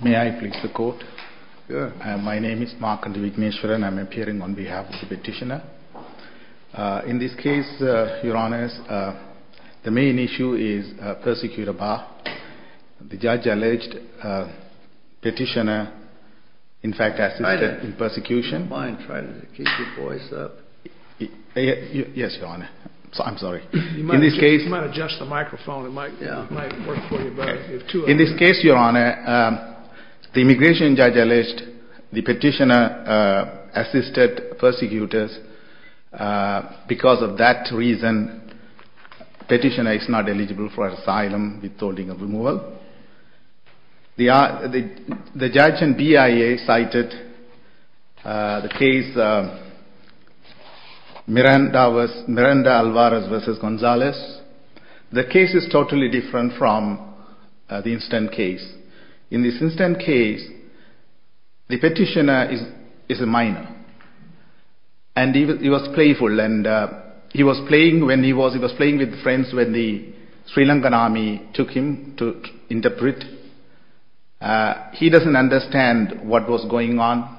May I please the Court? My name is Markandeevigneshwaran. I am appearing on behalf of the Petitioner. In this case, Your Honours, the main issue is Persecutor Bah. The Judge alleged Petitioner in fact assisted in persecution. In this case, Your Honour, the Immigration Judge alleged the Petitioner assisted persecutors. Because of that reason, Petitioner is not eligible for asylum with holding of removal. The Judge and BIA cited the case Miranda Alvarez v. Gonzalez. The case is totally different from the instant case. In this instant case, the Petitioner is a minor and he was playful. He was playing with friends when the Sri Lankan army took him to interpret. He doesn't understand what was going on.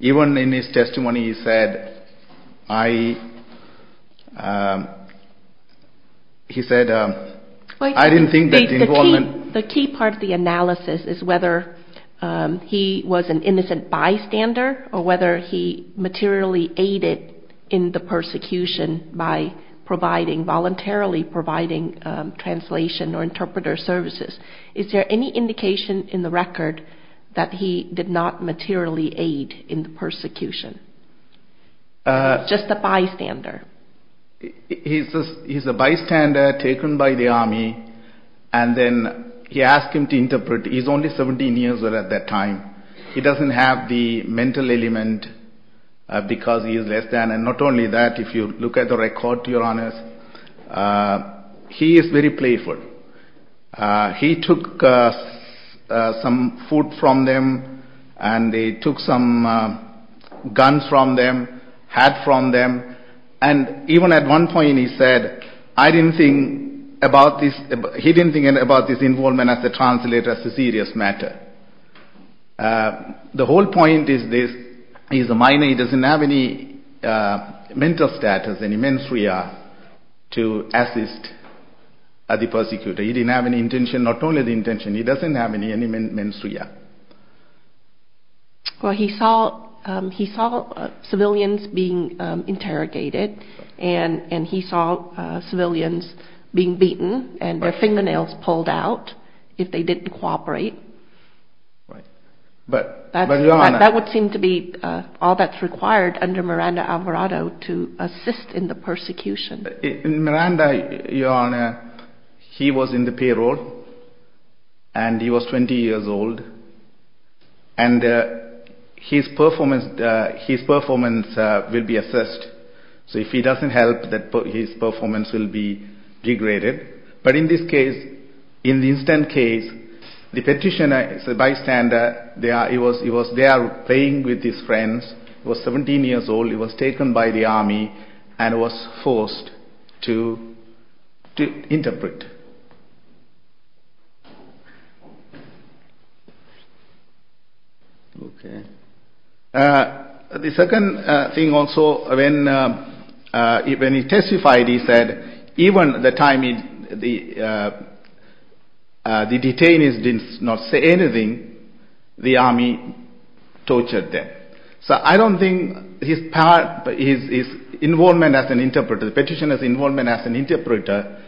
Even in his testimony he said, I didn't think that involvement... by voluntarily providing translation or interpreter services. Is there any indication in the record that he did not materially aid in the persecution? Just a bystander. He is a bystander taken by the army and then he asked him to interpret. He is only 17 years old at that time. He doesn't have the mental element because he is less than. Not only that, if you look at the record, Your Honour, he is very playful. He took some food from them and they took some guns from them, hats from them. Even at one point he said, he didn't think about this involvement as a translator, as a serious matter. The whole point is this, he is a minor, he doesn't have any mental status, any menstrual to assist the persecutor. He didn't have any intention, not only the intention, he doesn't have any menstrual. He saw civilians being interrogated and he saw civilians being beaten and their fingernails pulled out if they didn't cooperate. That would seem to be all that is required under Miranda Alvarado to assist in the persecution. In Miranda, Your Honour, he was in the payroll and he was 20 years old and his performance will be assessed. So if he doesn't help, his performance will be degraded. But in this case, in the incident case, the petitioner is a bystander. He was there playing with his friends, he was 17 years old, he was taken by the army and was forced to interpret. The second thing also, when he testified, he said, even at the time the detainees did not say anything, the army tortured them. So I don't think his involvement as an interpreter, the petitioner's involvement as an interpreter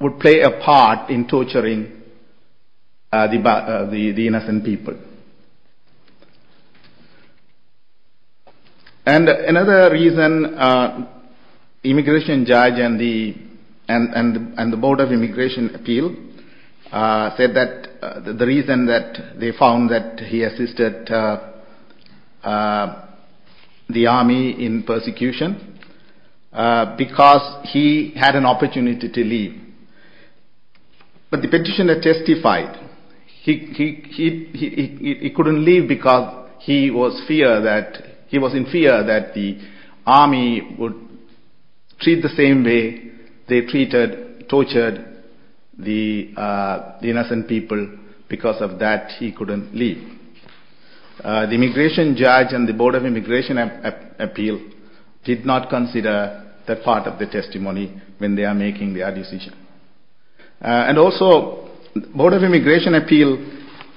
would play a part in torturing the innocent people. And another reason, the immigration judge and the Board of Immigration Appeal said that the reason that they found that he assisted the army in persecution was because he had an opportunity to leave. But the petitioner testified, he couldn't leave because he was in fear that the army would treat the same way they treated, tortured the innocent people. Because of that, he couldn't leave. The immigration judge and the Board of Immigration Appeal did not consider that part of the testimony when they are making their decision. And also, the Board of Immigration Appeal,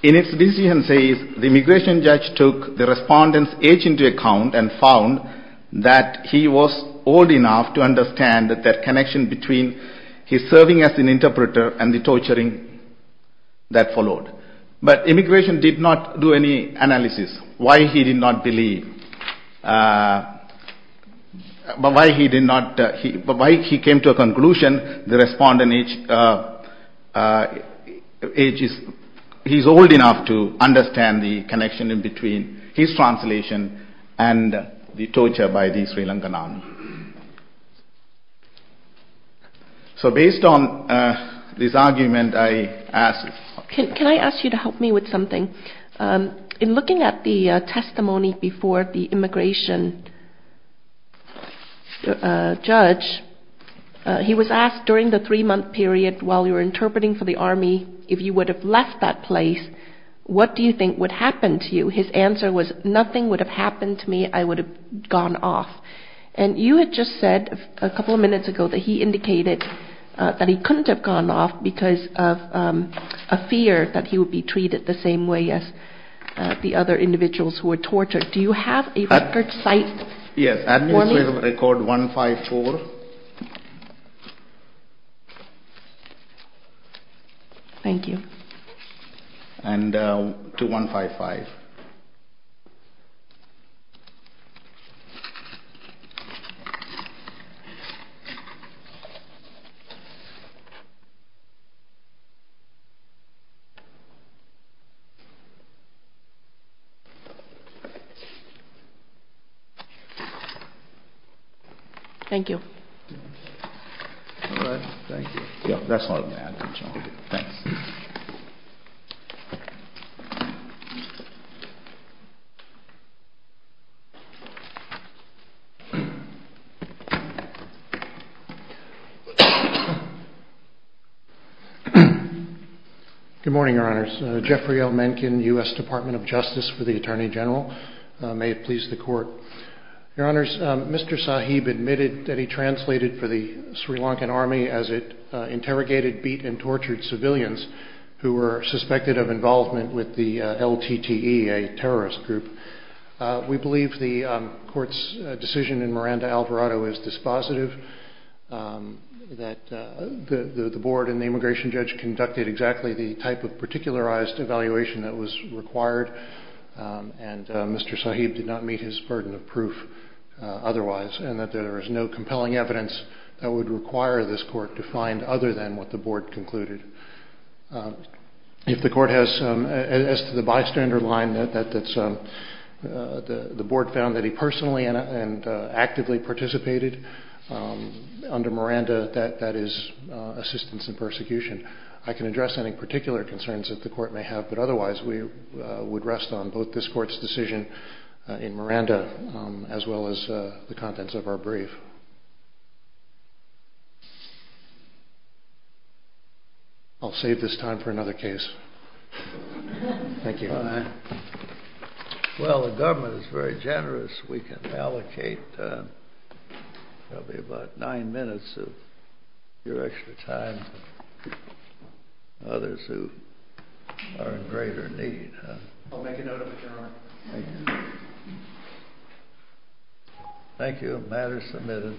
in its decision, says the immigration judge took the respondent's age into account and found that he was old enough to understand the connection between his serving as an interpreter and the torturing that followed. But immigration did not do any analysis. Why he did not believe, why he came to a conclusion, the respondent's age, he's old enough to understand the connection between his translation and the torture by the Sri Lankan army. So based on this argument, I ask... Can I ask you to help me with something? In looking at the testimony before the immigration judge, he was asked during the three-month period while you were interpreting for the army, if you would have left that place, what do you think would happen to you? His answer was, nothing would have happened to me, I would have gone off. And you had just said a couple of minutes ago that he indicated that he couldn't have gone off because of a fear that he would be treated the same way as the other individuals who were tortured. Do you have a record site? Yes, administrative record 154. Thank you. And 2155. Thank you. Thank you. Alright, thank you. That's all I have. Thanks. Good morning, your honors. Jeffrey L. Mencken, U.S. Department of Justice for the Attorney General. May it please the court. Your honors, Mr. Sahib admitted that he translated for the Sri Lankan army as it interrogated beaten and tortured civilians who were suspected of involvement with the LTTE, a terrorist group. We believe the court's decision in Miranda-Alvarado is dispositive, that the board and the immigration judge conducted exactly the type of particularized evaluation that was required, and Mr. Sahib did not meet his burden of proof otherwise, and that there is no compelling evidence that would require this court to find other than what the board concluded. If the court has, as to the bystander line that the board found that he personally and actively participated under Miranda, that is assistance in persecution. I can address any particular concerns that the court may have, but otherwise we would rest on both this court's decision in Miranda as well as the contents of our brief. I'll save this time for another case. Thank you. Well, the government is very generous. We can allocate probably about nine minutes of your extra time to others who are in greater need. I'll make a note of it, your honor. Thank you. Thank you. Matter is submitted.